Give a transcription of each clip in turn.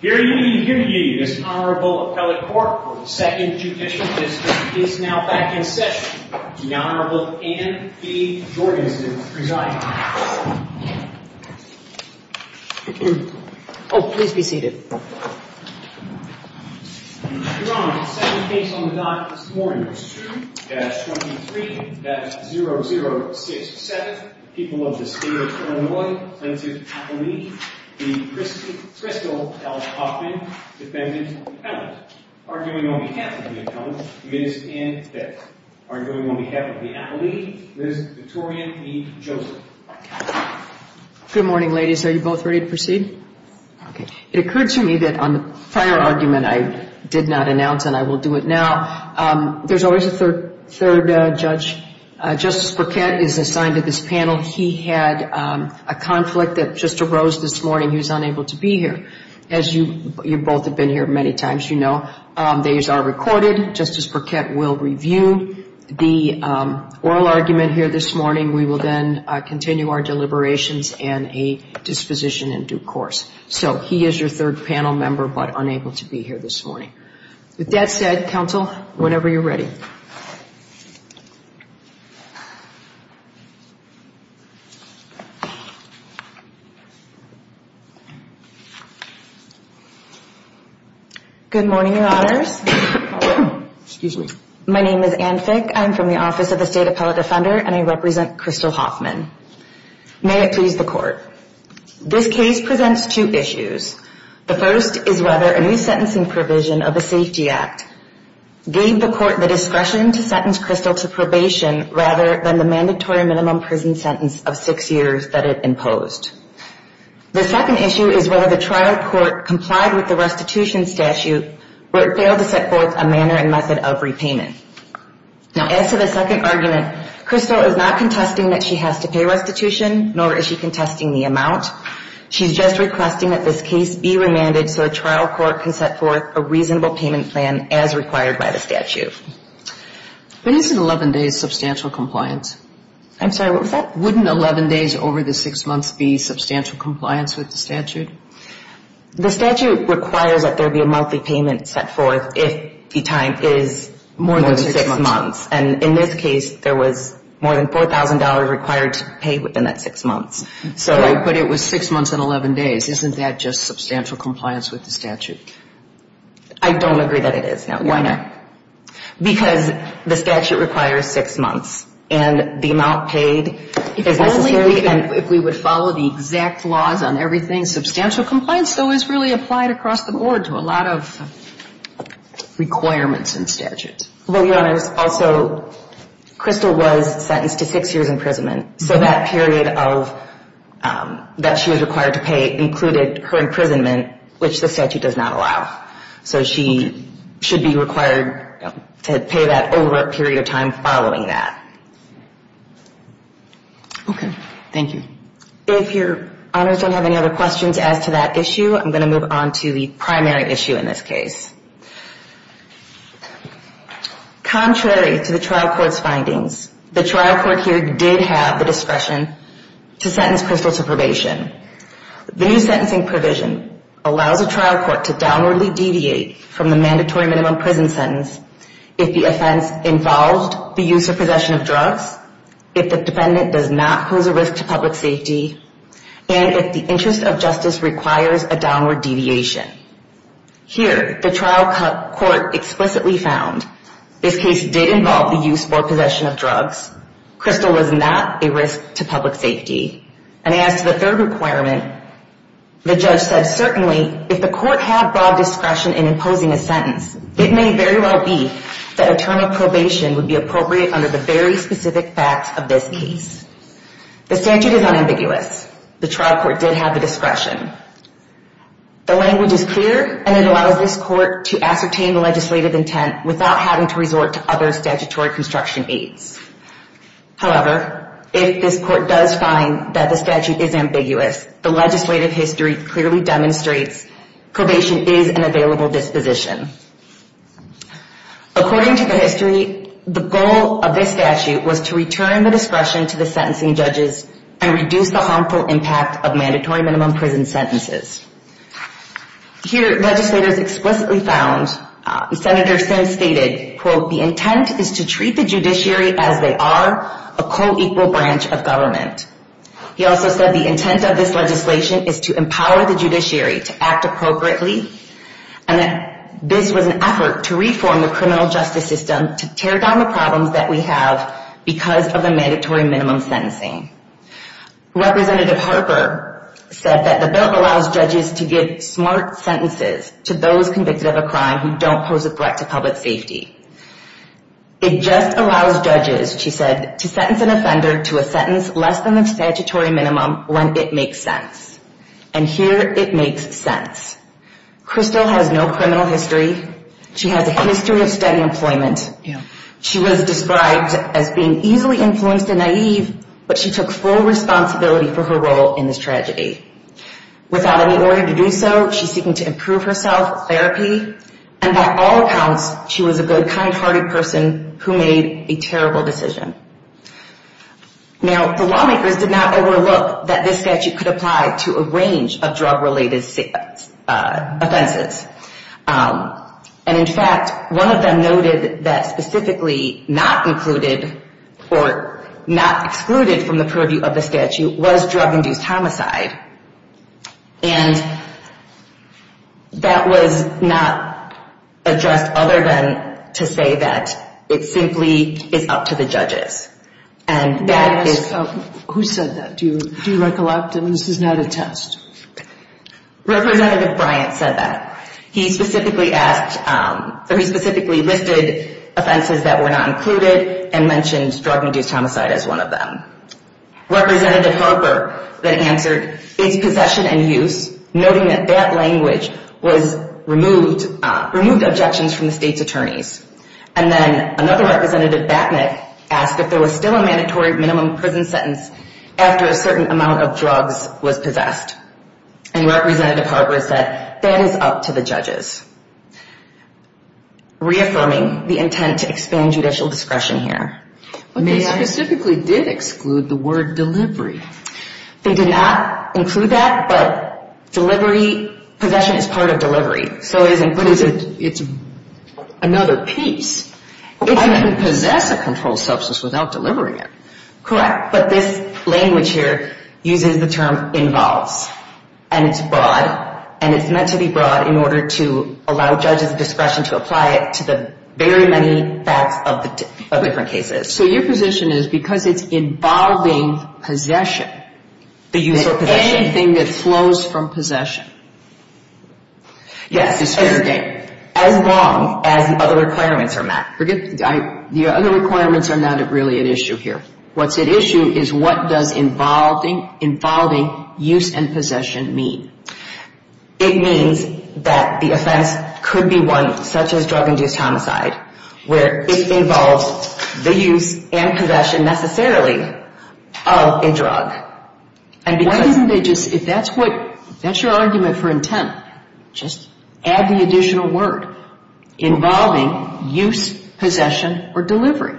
Here ye, here ye, this Honorable Appellate Court for the Second Judicial Dismissal is now back in session. The Honorable Anne B. Jorgensen is presiding. Oh, please be seated. Your Honor, the second case on the docket this morning is 2-23-0067, the people of the State of Illinois, Senate Appellee, the Crystal L. Hoffman, Defendant, Appellant. Arguing on behalf of the Appellant, Ms. Anne Betz. Arguing on behalf of the Appellee, Ms. Victoria E. Joseph. Good morning, ladies. Are you both ready to proceed? It occurred to me that on the prior argument I did not announce and I will do it now. There's always a third judge. Justice Burkett is assigned to this panel. He had a conflict that just arose this morning. He was unable to be here. As you both have been here many times, you know, these are recorded. Justice Burkett will review the oral argument here this morning. We will then continue our deliberations and a disposition in due course. So he is your third panel member but unable to be here this morning. With that said, counsel, whenever you're ready. Good morning, Your Honors. Excuse me. My name is Anne Fick. I'm from the Office of the State Appellate Defender and I represent Crystal Hoffman. May it please the Court. This case presents two issues. The first is whether a new sentencing provision of the Safety Act gave the Court the discretion to sentence Crystal to probation rather than the mandatory minimum prison sentence of six years that it imposed. The second issue is whether the trial court complied with the restitution statute where it failed to set forth a manner and method of repayment. Now, as to the second argument, Crystal is not contesting that she has to pay restitution, nor is she contesting the amount. She's just requesting that this case be remanded so a trial court can set forth a reasonable payment plan as required by the statute. But isn't 11 days substantial compliance? I'm sorry, what was that? Wouldn't 11 days over the six months be substantial compliance with the statute? The statute requires that there be a monthly payment set forth if the time is more than six months. And in this case, there was more than $4,000 required to pay within that six months. So I put it was six months and 11 days. Isn't that just substantial compliance with the statute? I don't agree that it is, Your Honor. Why not? Because the statute requires six months, and the amount paid is necessary. If only we would follow the exact laws on everything. Substantial compliance, though, is really applied across the board to a lot of requirements in statutes. Well, Your Honors, also, Crystal was sentenced to six years' imprisonment. So that period that she was required to pay included her imprisonment, which the statute does not allow. So she should be required to pay that over a period of time following that. Okay. Thank you. If Your Honors don't have any other questions as to that issue, I'm going to move on to the primary issue in this case. Contrary to the trial court's findings, the trial court here did have the discretion to sentence Crystal to probation. The new sentencing provision allows a trial court to downwardly deviate from the mandatory minimum prison sentence if the offense involved the use or possession of drugs, if the defendant does not pose a risk to public safety, and if the interest of justice requires a downward deviation. Here, the trial court explicitly found this case did involve the use or possession of drugs. Crystal was not a risk to public safety. And as to the third requirement, the judge said, certainly, if the court had broad discretion in imposing a sentence, it may very well be that a term of probation would be appropriate under the very specific facts of this case. The statute is unambiguous. The trial court did have the discretion. The language is clear, and it allows this court to ascertain the legislative intent without having to resort to other statutory construction aides. However, if this court does find that the statute is ambiguous, the legislative history clearly demonstrates probation is an available disposition. According to the history, the goal of this statute was to return the discretion to the sentencing judges and reduce the harmful impact of mandatory minimum prison sentences. Here, legislators explicitly found, Senator Sims stated, quote, the intent is to treat the judiciary as they are a co-equal branch of government. He also said the intent of this legislation is to empower the judiciary to act appropriately, and that this was an effort to reform the criminal justice system to tear down the problems that we have because of the mandatory minimum sentencing. Representative Harper said that the bill allows judges to give smart sentences to those convicted of a crime who don't pose a threat to public safety. It just allows judges, she said, to sentence an offender to a sentence less than the statutory minimum when it makes sense. And here, it makes sense. Crystal has no criminal history. She has a history of steady employment. She was described as being easily influenced and naive, but she took full responsibility for her role in this tragedy. Without any order to do so, she's seeking to improve herself, therapy, and by all accounts, she was a good, kind-hearted person who made a terrible decision. Now, the lawmakers did not overlook that this statute could apply to a range of drug-related offenses. And in fact, one of them noted that specifically not included or not excluded from the purview of the statute was drug-induced homicide. And that was not addressed other than to say that it simply is up to the judges. Who said that? Do you recollect? I mean, this is not a test. Representative Bryant said that. He specifically listed offenses that were not included and mentioned drug-induced homicide as one of them. Representative Harper then answered, it's possession and use, noting that that language was removed, removed objections from the state's attorneys. And then another representative, Batnick, asked if there was still a mandatory minimum prison sentence after a certain amount of drugs was possessed. And Representative Harper said, that is up to the judges, reaffirming the intent to expand judicial discretion here. But they specifically did exclude the word delivery. They did not include that, but delivery, possession is part of delivery. But it's another piece. If you can possess a controlled substance without delivering it. Correct. But this language here uses the term involves, and it's broad, and it's meant to be broad in order to allow judges' discretion to apply it to the very many facts of different cases. So your position is, because it's involving possession. The use or possession. Anything that flows from possession. Yes. As long as the other requirements are met. The other requirements are not really at issue here. What's at issue is what does involving use and possession mean? It means that the offense could be one such as drug-induced homicide, where it involves the use and possession necessarily of a drug. Why didn't they just, if that's your argument for intent, just add the additional word involving use, possession, or delivery?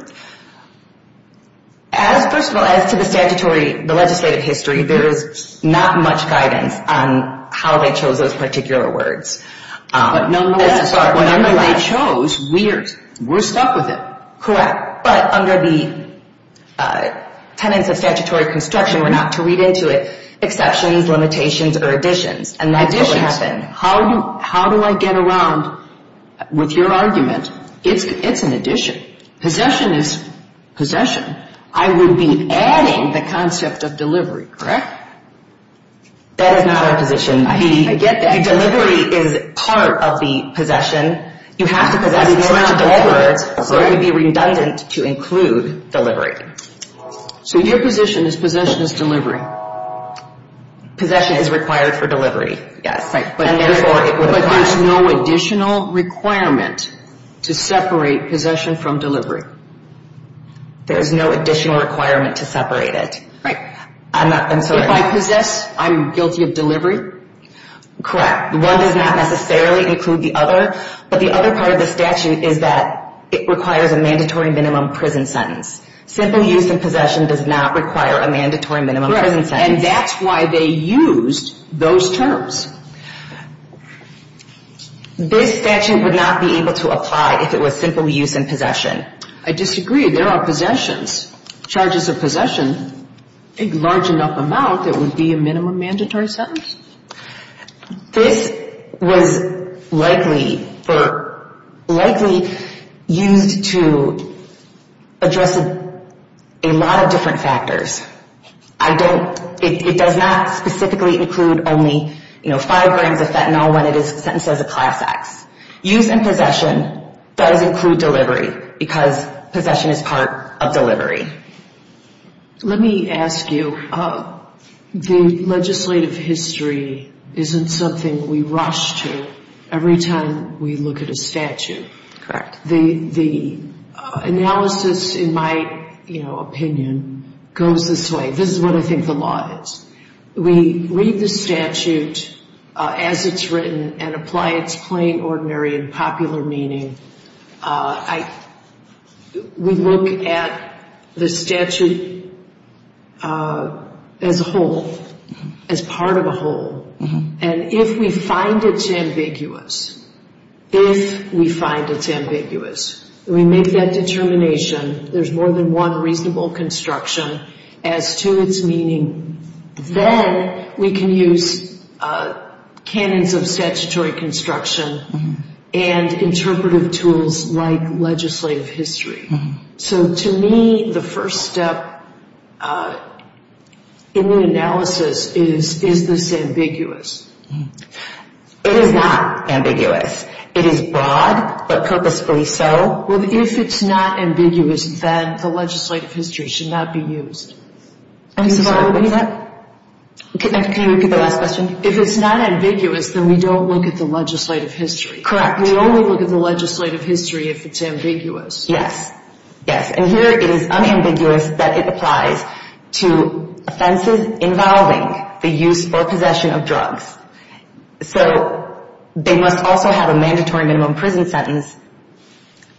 First of all, as to the statutory, the legislative history, there is not much guidance on how they chose those particular words. But nonetheless, whenever they chose, we're stuck with it. Correct. But under the tenets of statutory construction, we're not to read into it exceptions, limitations, or additions. Additions. And that's what would happen. How do I get around, with your argument, it's an addition. Possession is possession. I would be adding the concept of delivery. Correct? That is not our position. I get that. Delivery is part of the possession. You have to possess in order to deliver, so it would be redundant to include delivery. So your position is possession is delivery. Possession is required for delivery. Yes. And therefore, it would apply. But there's no additional requirement to separate possession from delivery. There's no additional requirement to separate it. Right. I'm sorry. If I possess, I'm guilty of delivery? Correct. One does not necessarily include the other, but the other part of the statute is that it requires a mandatory minimum prison sentence. Simple use and possession does not require a mandatory minimum prison sentence. And that's why they used those terms. This statute would not be able to apply if it was simple use and possession. I disagree. There are possessions, charges of possession, a large enough amount that would be a minimum mandatory sentence. This was likely used to address a lot of different factors. It does not specifically include only, you know, five grams of fentanyl when it is sentenced as a class act. Use and possession does include delivery because possession is part of delivery. Let me ask you, the legislative history isn't something we rush to every time we look at a statute. Correct. The analysis, in my, you know, opinion, goes this way. This is what I think the law is. We read the statute as it's written and apply its plain, ordinary, and popular meaning. We look at the statute as a whole, as part of a whole. And if we find it's ambiguous, if we find it's ambiguous, we make that determination. There's more than one reasonable construction as to its meaning. Then we can use canons of statutory construction and interpretive tools like legislative history. So to me, the first step in the analysis is, is this ambiguous? It is not ambiguous. It is broad, but purposefully so. Well, if it's not ambiguous, then the legislative history should not be used. Can you repeat that? Can you repeat the last question? If it's not ambiguous, then we don't look at the legislative history. Correct. We only look at the legislative history if it's ambiguous. Yes. Yes. And here it is unambiguous that it applies to offenses involving the use or possession of drugs. So they must also have a mandatory minimum prison sentence.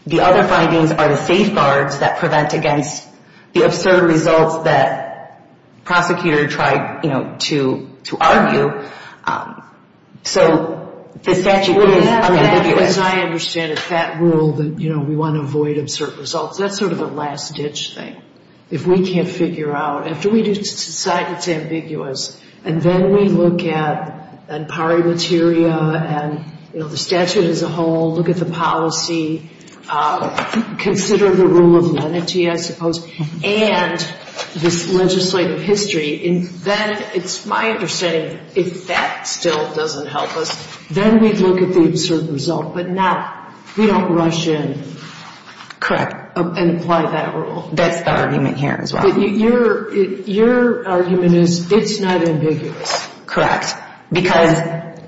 The other findings are the safeguards that prevent against the absurd results that prosecutors try to argue. So the statute is ambiguous. As I understand it, that rule that we want to avoid absurd results, that's sort of a last-ditch thing. If we can't figure out, after we decide it's ambiguous, and then we look at empowering materia and, you know, the statute as a whole, look at the policy, consider the rule of lenity, I suppose, and this legislative history, then it's my understanding if that still doesn't help us, then we look at the absurd result, but not, we don't rush in. Correct. And apply that rule. That's the argument here as well. Your argument is it's not ambiguous. Correct. Because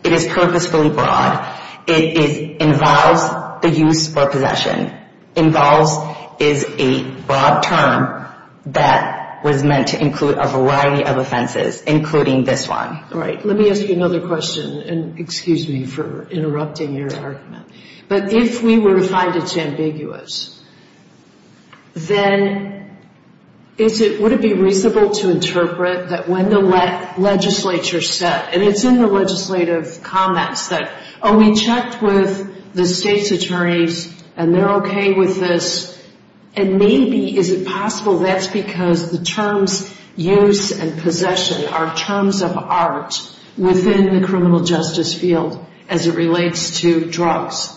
it is purposefully broad. It involves the use or possession. Involves is a broad term that was meant to include a variety of offenses, including this one. All right. Let me ask you another question, and excuse me for interrupting your argument. But if we were to find it's ambiguous, then is it, would it be reasonable to interpret that when the legislature said, and it's in the legislative comments that, oh, we checked with the state's attorneys, and they're okay with this, and maybe is it possible that's because the terms use and possession are terms of art within the criminal justice field as it relates to drugs.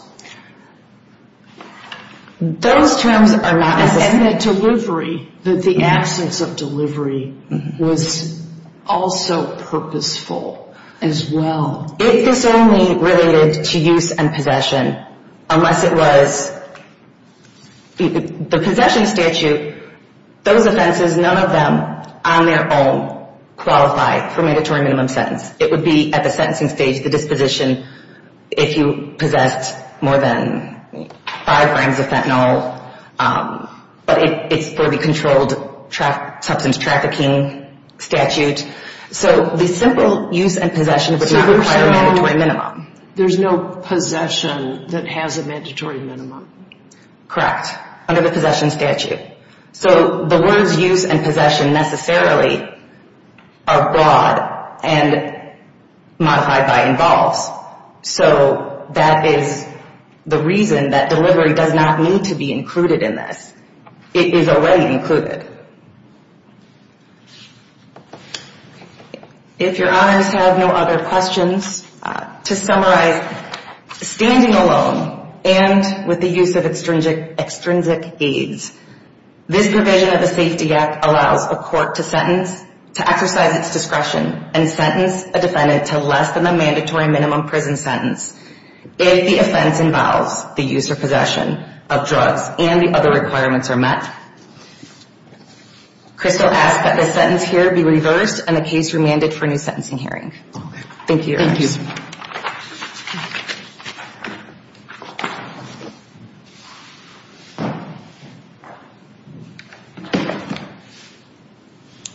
Those terms are not. And the delivery, that the absence of delivery was also purposeful as well. If this only related to use and possession, unless it was the possession statute, those offenses, none of them on their own qualify for mandatory minimum sentence. It would be at the sentencing stage, the disposition, if you possessed more than five grams of fentanyl. But it's for the controlled substance trafficking statute. So the simple use and possession would require a mandatory minimum. There's no possession that has a mandatory minimum. Correct. Under the possession statute. So the words use and possession necessarily are broad and modified by involves. So that is the reason that delivery does not need to be included in this. It is already included. If your honors have no other questions, to summarize, standing alone and with the use of extrinsic aids, this provision of the Safety Act allows a court to sentence, to exercise its discretion, and sentence a defendant to less than the mandatory minimum prison sentence if the offense involves the use or possession of drugs and the other requirements are met. Crystal asks that this sentence here be reversed and the case remanded for a new sentencing hearing. Thank you, your honors. Thank you.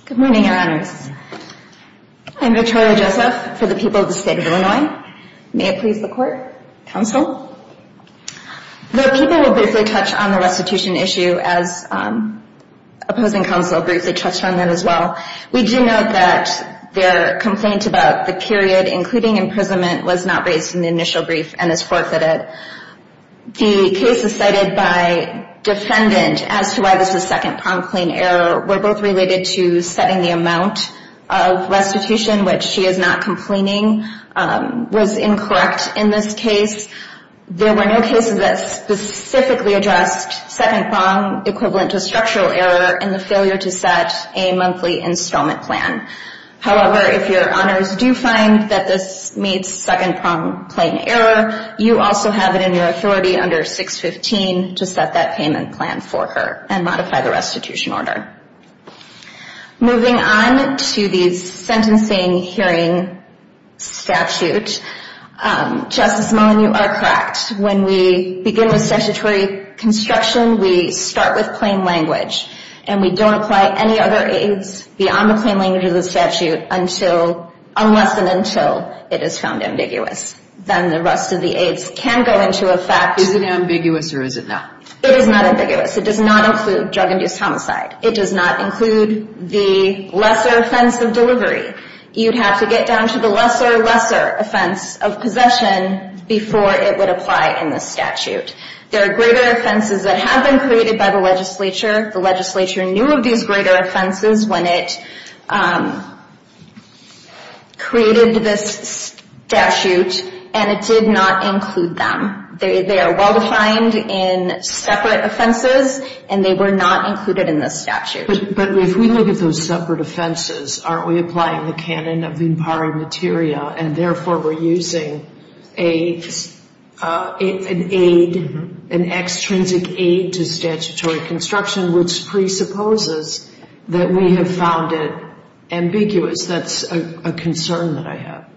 Good morning, your honors. I'm Victoria Joseph for the people of the state of Illinois. May it please the court. Counsel. The people will briefly touch on the restitution issue as opposing counsel briefly touched on that as well. We do note that their complaint about the period, including imprisonment, was not raised in the initial brief and is forfeited. The case is cited by defendant as to why this is second promptly in error. We're both related to setting the amount of restitution, which she is not complaining was incorrect in this case. There were no cases that specifically addressed second prompt equivalent to structural error in the failure to set a monthly installment plan. However, if your honors do find that this meets second prompt plain error, you also have it in your authority under 615 to set that payment plan for her and modify the restitution order. Moving on to the sentencing hearing statute, Justice Mullen, you are correct. When we begin with statutory construction, we start with plain language and we don't apply any other aids beyond the plain language of the statute unless and until it is found ambiguous. Then the rest of the aids can go into effect. Is it ambiguous or is it not? It is not ambiguous. It does not include drug-induced homicide. It does not include the lesser offense of delivery. You'd have to get down to the lesser, lesser offense of possession before it would apply in the statute. There are greater offenses that have been created by the legislature. The legislature knew of these greater offenses when it created this statute, and it did not include them. They are well-defined in separate offenses, and they were not included in this statute. But if we look at those separate offenses, aren't we applying the canon of impari materia and therefore we're using an aid, an extrinsic aid to statutory construction, which presupposes that we have found it ambiguous? That's a concern that I have.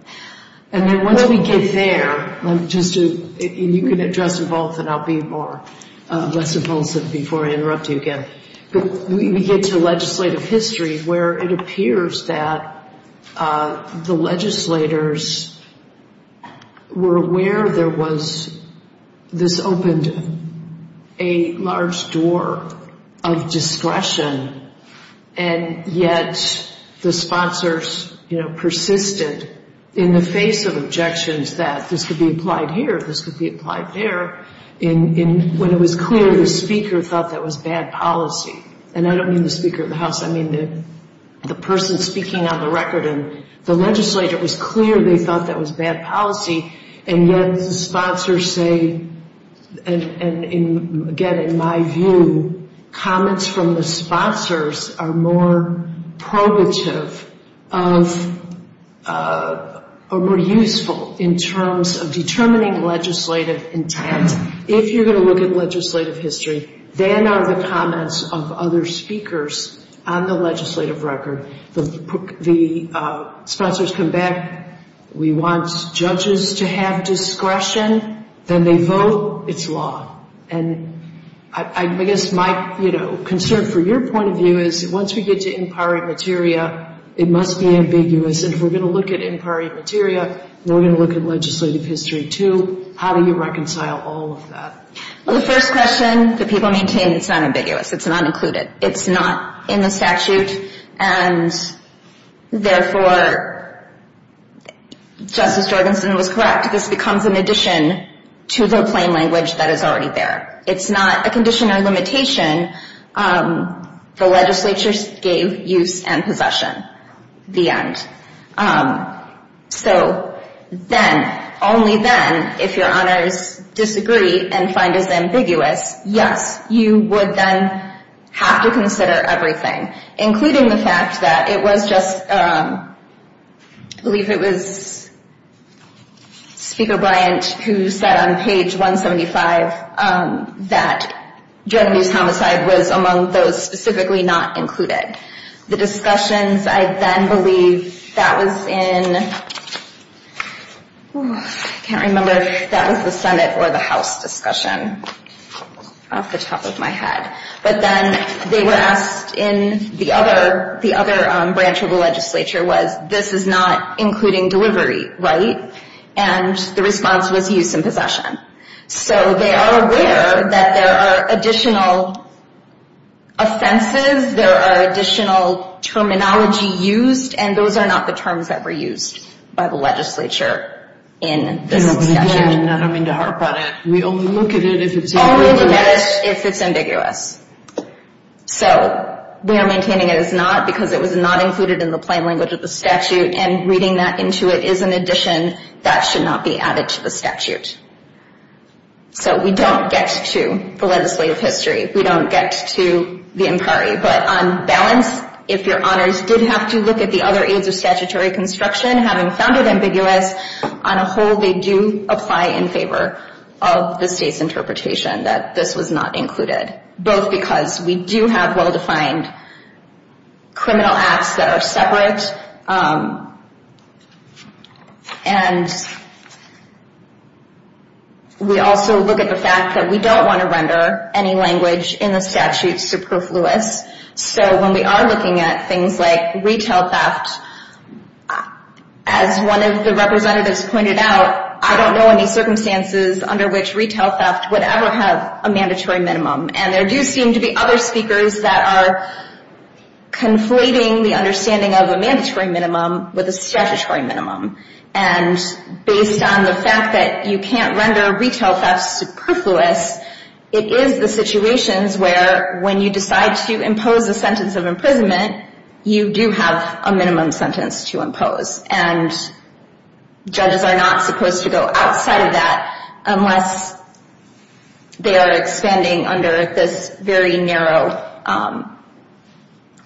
And then once we get there, and you can address them both, and I'll be less evulsive before I interrupt you again. We get to legislative history where it appears that the legislators were aware there was this opened a large door of discretion, and yet the sponsors persisted in the face of objections that this could be applied here, this could be applied there. When it was clear the speaker thought that was bad policy, and I don't mean the Speaker of the House, I mean the person speaking on the record, the legislator was clear they thought that was bad policy, and yet the sponsors say, and again, in my view, comments from the sponsors are more probative or more useful in terms of determining legislative intent. If you're going to look at legislative history, then are the comments of other speakers on the legislative record. The sponsors come back, we want judges to have discretion, then they vote, it's law. And I guess my concern for your point of view is once we get to impari materia, it must be ambiguous, and if we're going to look at impari materia, and we're going to look at legislative history too, how do you reconcile all of that? The first question that people maintain, it's not ambiguous, it's not included, it's not in the statute, and therefore, Justice Jorgensen was correct, this becomes an addition to the plain language that is already there. It's not a condition or limitation, the legislatures gave use and possession, the end. So then, only then, if your honors disagree and find us ambiguous, yes, you would then have to consider everything, including the fact that it was just, I believe it was Speaker Bryant who said on page 175 that drug abuse homicide was among those specifically not included. The discussions, I then believe that was in, I can't remember if that was the Senate or the House discussion off the top of my head. But then they were asked in the other branch of the legislature was, this is not including delivery, right? And the response was use and possession. So they are aware that there are additional offenses, there are additional terminology used, and those are not the terms that were used by the legislature in this statute. I don't mean to harp on it, we only look at it if it's ambiguous. Only if it's ambiguous. So we are maintaining it is not because it was not included in the plain language of the statute, and reading that into it is an addition that should not be added to the statute. So we don't get to the legislative history, we don't get to the inquiry. But on balance, if your honors did have to look at the other aides of statutory construction, having found it ambiguous, on a whole they do apply in favor of the state's interpretation that this was not included. Both because we do have well-defined criminal acts that are separate, and we also look at the fact that we don't want to render any language in the statute superfluous. So when we are looking at things like retail theft, as one of the representatives pointed out, I don't know any circumstances under which retail theft would ever have a mandatory minimum. And there do seem to be other speakers that are conflating the understanding of a mandatory minimum with a statutory minimum. And based on the fact that you can't render retail theft superfluous, it is the situations where when you decide to impose a sentence of imprisonment, you do have a minimum sentence to impose. And judges are not supposed to go outside of that unless they are expanding under this very narrow,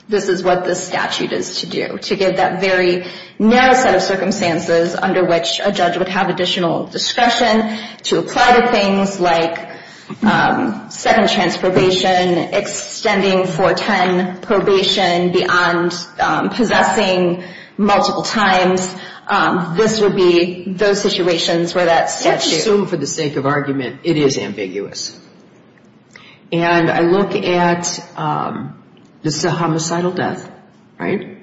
this is what this statute is to do, to give that very narrow set of circumstances under which a judge would have additional discretion to apply to things like second chance probation, extending for 10 probation beyond possessing multiple times. This would be those situations where that statute... I would assume for the sake of argument, it is ambiguous. And I look at, this is a homicidal death, right?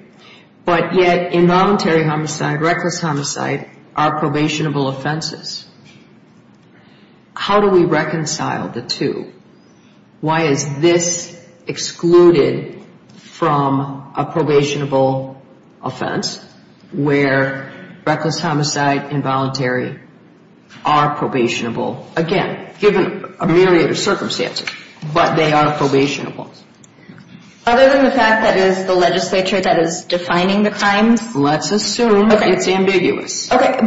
But yet, involuntary homicide, reckless homicide are probationable offenses. How do we reconcile the two? Why is this excluded from a probationable offense where reckless homicide, involuntary, are probationable? Again, given a myriad of circumstances, but they are probationable. Other than the fact that it is the legislature that is defining the crimes? Let's assume it's ambiguous. But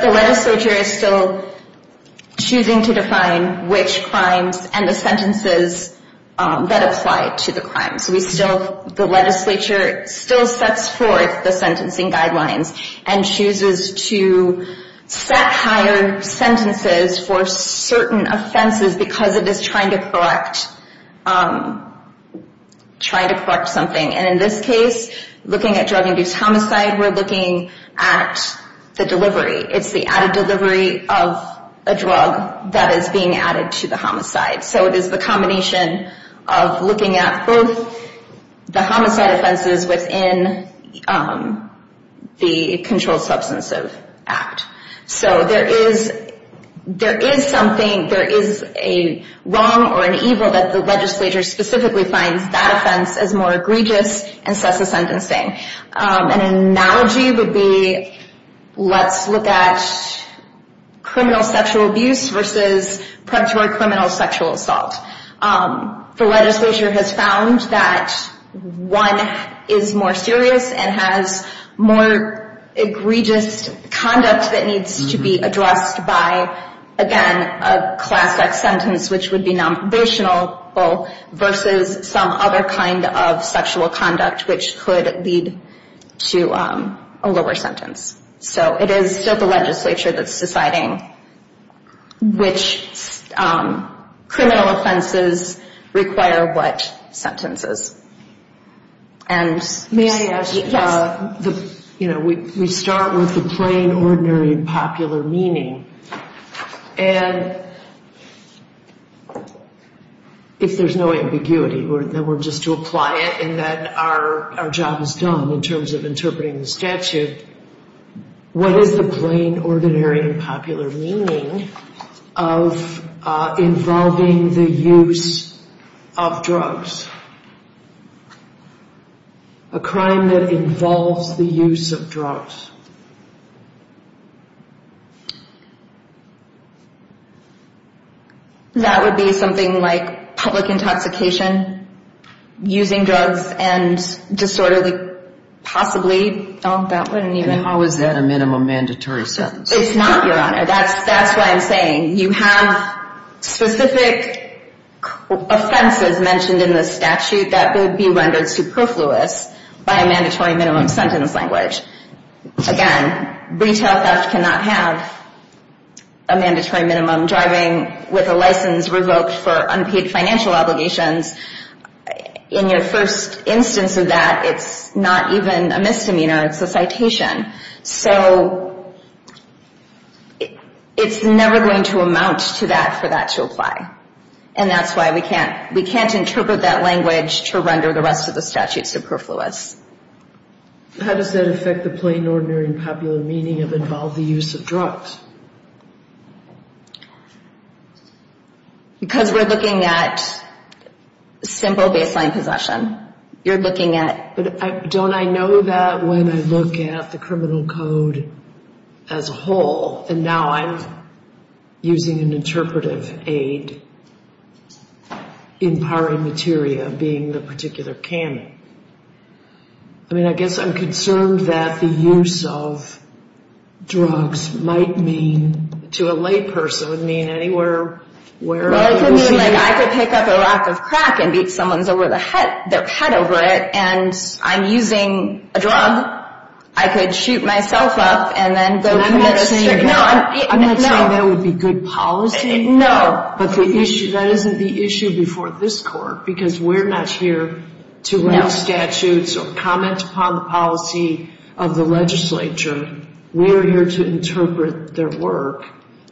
the legislature is still choosing to define which crimes and the sentences that apply to the crimes. The legislature still sets forth the sentencing guidelines and chooses to set higher sentences for certain offenses because it is trying to correct something. And in this case, looking at drug-induced homicide, we're looking at the delivery. It's the added delivery of a drug that is being added to the homicide. So it is the combination of looking at both the homicide offenses within the Controlled Substance Abuse Act. So there is something, there is a wrong or an evil that the legislature specifically finds that offense as more egregious and sets a sentencing. An analogy would be, let's look at criminal sexual abuse versus predatory criminal sexual assault. The legislature has found that one is more serious and has more egregious conduct that needs to be addressed by, again, a classic sentence, which would be nonprobationable versus some other kind of sexual conduct, which could lead to a lower sentence. So it is still the legislature that's deciding which criminal offenses require what sentences. And may I add, you know, we start with the plain, ordinary, popular meaning. And if there's no ambiguity, then we're just to apply it in that our job is done in terms of interpreting the statute. What is the plain, ordinary, and popular meaning of involving the use of drugs? A crime that involves the use of drugs. That would be something like public intoxication, using drugs, and disorderly, possibly. Oh, that wouldn't even... And how is that a minimum mandatory sentence? It's not, Your Honor. That's why I'm saying you have specific offenses mentioned in the statute that would be rendered superfluous by a mandatory minimum sentence language. Again, retail theft cannot have a mandatory minimum driving with a license revoked for unpaid financial obligations. In your first instance of that, it's not even a misdemeanor. It's a citation. So it's never going to amount to that for that to apply. And that's why we can't interpret that language to render the rest of the statute superfluous. How does that affect the plain, ordinary, and popular meaning of involve the use of drugs? Because we're looking at simple baseline possession. You're looking at... But don't I know that when I look at the criminal code as a whole, and now I'm using an interpretive aid, empowering materia being the particular canon. I mean, I guess I'm concerned that the use of drugs might mean, to a layperson, mean anywhere where... I mean, like, I could pick up a rack of crack and beat someone's head over it, and I'm using a drug. I could shoot myself up and then go commit a serious crime. I'm not saying that would be good policy. No. But that isn't the issue before this court, because we're not here to read statutes or comment upon the policy of the legislature. We're here to interpret their work.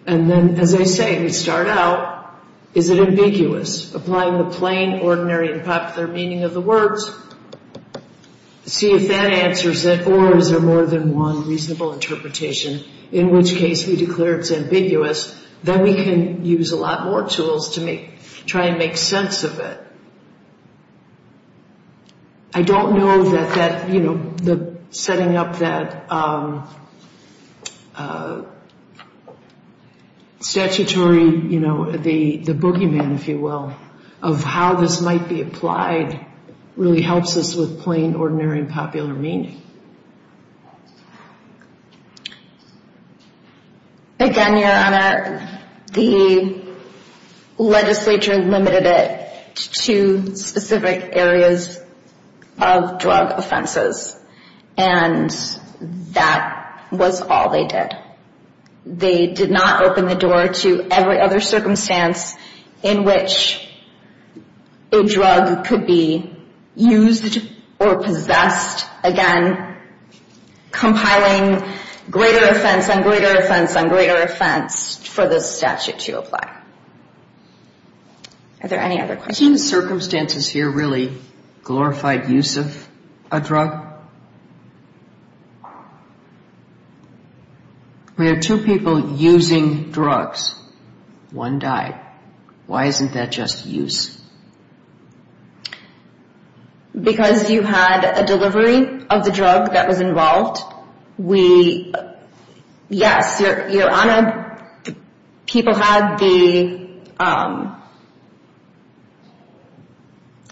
And then, as I say, we start out, is it ambiguous? Applying the plain, ordinary, and popular meaning of the words, see if that answers it. Or is there more than one reasonable interpretation, in which case we declare it's ambiguous. Then we can use a lot more tools to try and make sense of it. I don't know that setting up that statutory, you know, the boogeyman, if you will, of how this might be applied really helps us with plain, ordinary, and popular meaning. Again, Your Honor, the legislature limited it to specific areas of drug offenses. And that was all they did. They did not open the door to every other circumstance in which a drug could be used or possessed. Again, compiling greater offense and greater offense and greater offense for this statute to apply. Are there any other questions? Are the 15 circumstances here really glorified use of a drug? We have two people using drugs. One died. Why isn't that just use? Because you had a delivery of the drug that was involved. Yes, Your Honor, people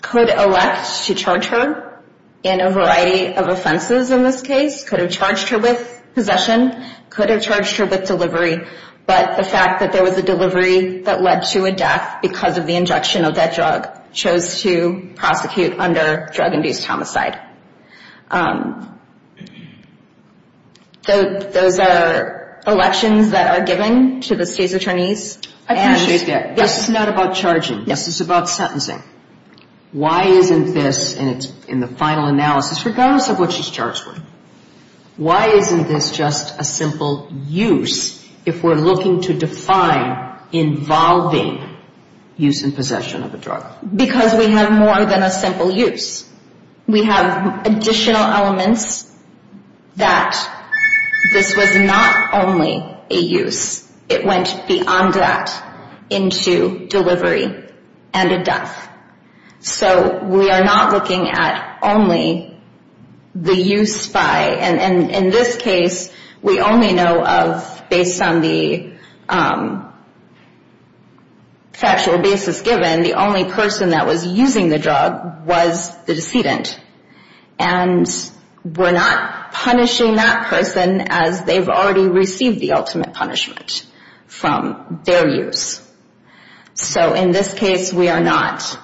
could elect to charge her in a variety of offenses in this case. Could have charged her with possession. Could have charged her with delivery. But the fact that there was a delivery that led to a death because of the injection of that drug chose to prosecute under drug-induced homicide. Those are elections that are given to the state's attorneys. I appreciate that. This is not about charging. This is about sentencing. Why isn't this, and it's in the final analysis, regardless of what she's charged with, why isn't this just a simple use? If we're looking to define involving use and possession of a drug. Because we have more than a simple use. We have additional elements that this was not only a use. It went beyond that into delivery and a death. So we are not looking at only the use by. And in this case, we only know of based on the factual basis given, the only person that was using the drug was the decedent. And we're not punishing that person as they've already received the ultimate punishment from their use. So in this case, we are not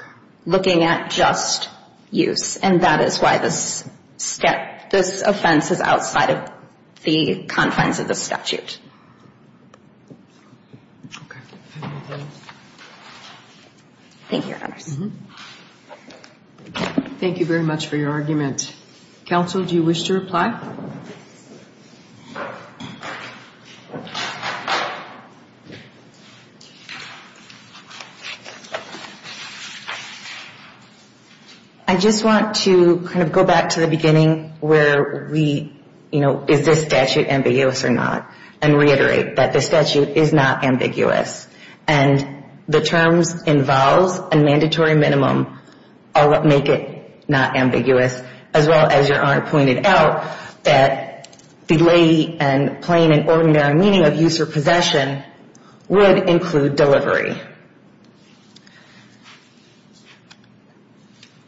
looking at just use. And that is why this offense is outside of the confines of the statute. Okay. Thank you, Your Honors. Thank you very much for your argument. Counsel, do you wish to reply? No. I just want to kind of go back to the beginning where we, you know, is this statute ambiguous or not? And reiterate that the statute is not ambiguous. And the terms involves a mandatory minimum make it not ambiguous, as well as Your Honor pointed out, that belay and plain and ordinary meaning of use or possession would include delivery.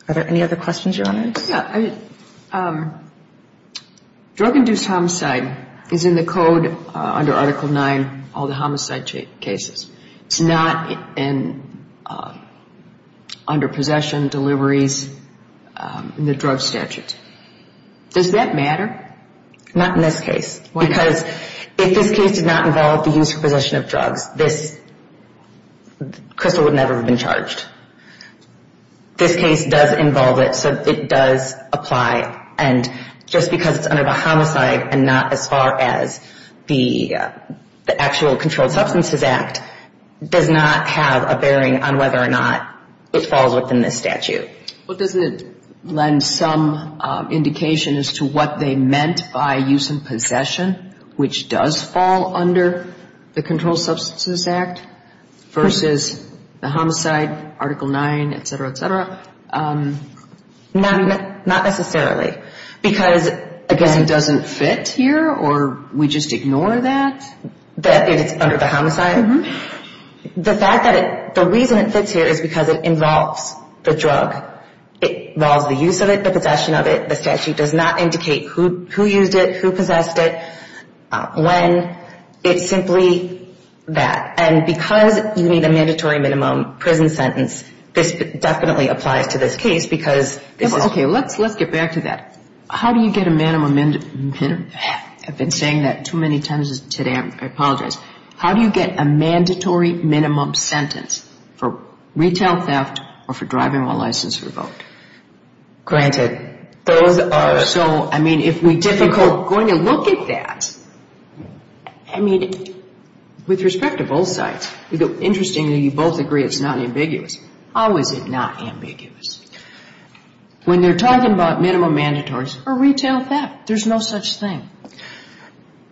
Are there any other questions, Your Honors? Yeah. Drug-induced homicide is in the code under Article 9, all the homicide cases. It's not under possession, deliveries, the drug statute. Does that matter? Not in this case. Why not? Because if this case did not involve the use or possession of drugs, this crystal would never have been charged. This case does involve it, so it does apply. And just because it's under the homicide and not as far as the actual Controlled Substances Act, does not have a bearing on whether or not it falls within this statute. Well, doesn't it lend some indication as to what they meant by use and possession, which does fall under the Controlled Substances Act, versus the homicide, Article 9, et cetera, et cetera? Not necessarily. Because, again, it doesn't fit here, or we just ignore that? That it's under the homicide? Mm-hmm. The reason it fits here is because it involves the drug. It involves the use of it, the possession of it. The statute does not indicate who used it, who possessed it, when. It's simply that. And because you need a mandatory minimum prison sentence, this definitely applies to this case because this is – Okay, let's get back to that. How do you get a minimum – I've been saying that too many times today. I apologize. How do you get a mandatory minimum sentence for retail theft or for driving while licensed for the vote? Granted, those are – So, I mean, if we – Difficult going to look at that. I mean, with respect to both sides. Interestingly, you both agree it's not ambiguous. How is it not ambiguous? When they're talking about minimum mandatories for retail theft, there's no such thing.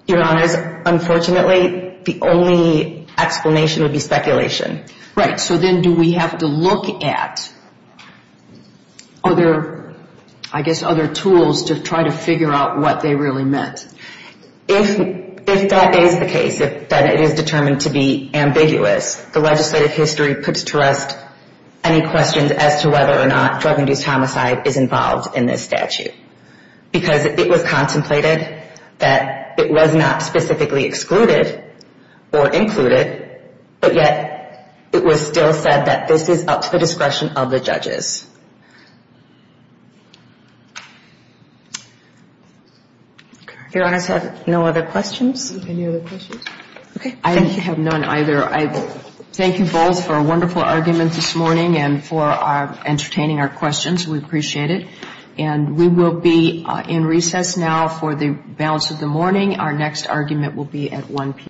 Your Honors, unfortunately, the only explanation would be speculation. Right. So then do we have to look at other, I guess, other tools to try to figure out what they really meant? If that is the case, then it is determined to be ambiguous. The legislative history puts to rest any questions as to whether or not drug-induced homicide is involved in this statute. Because it was contemplated that it was not specifically excluded or included, but yet it was still said that this is up to the discretion of the judges. Your Honors have no other questions? Any other questions? Okay. I have none either. I thank you both for a wonderful argument this morning and for entertaining our questions. We appreciate it. And we will be in recess now for the balance of the morning. Our next argument will be at 1 p.m.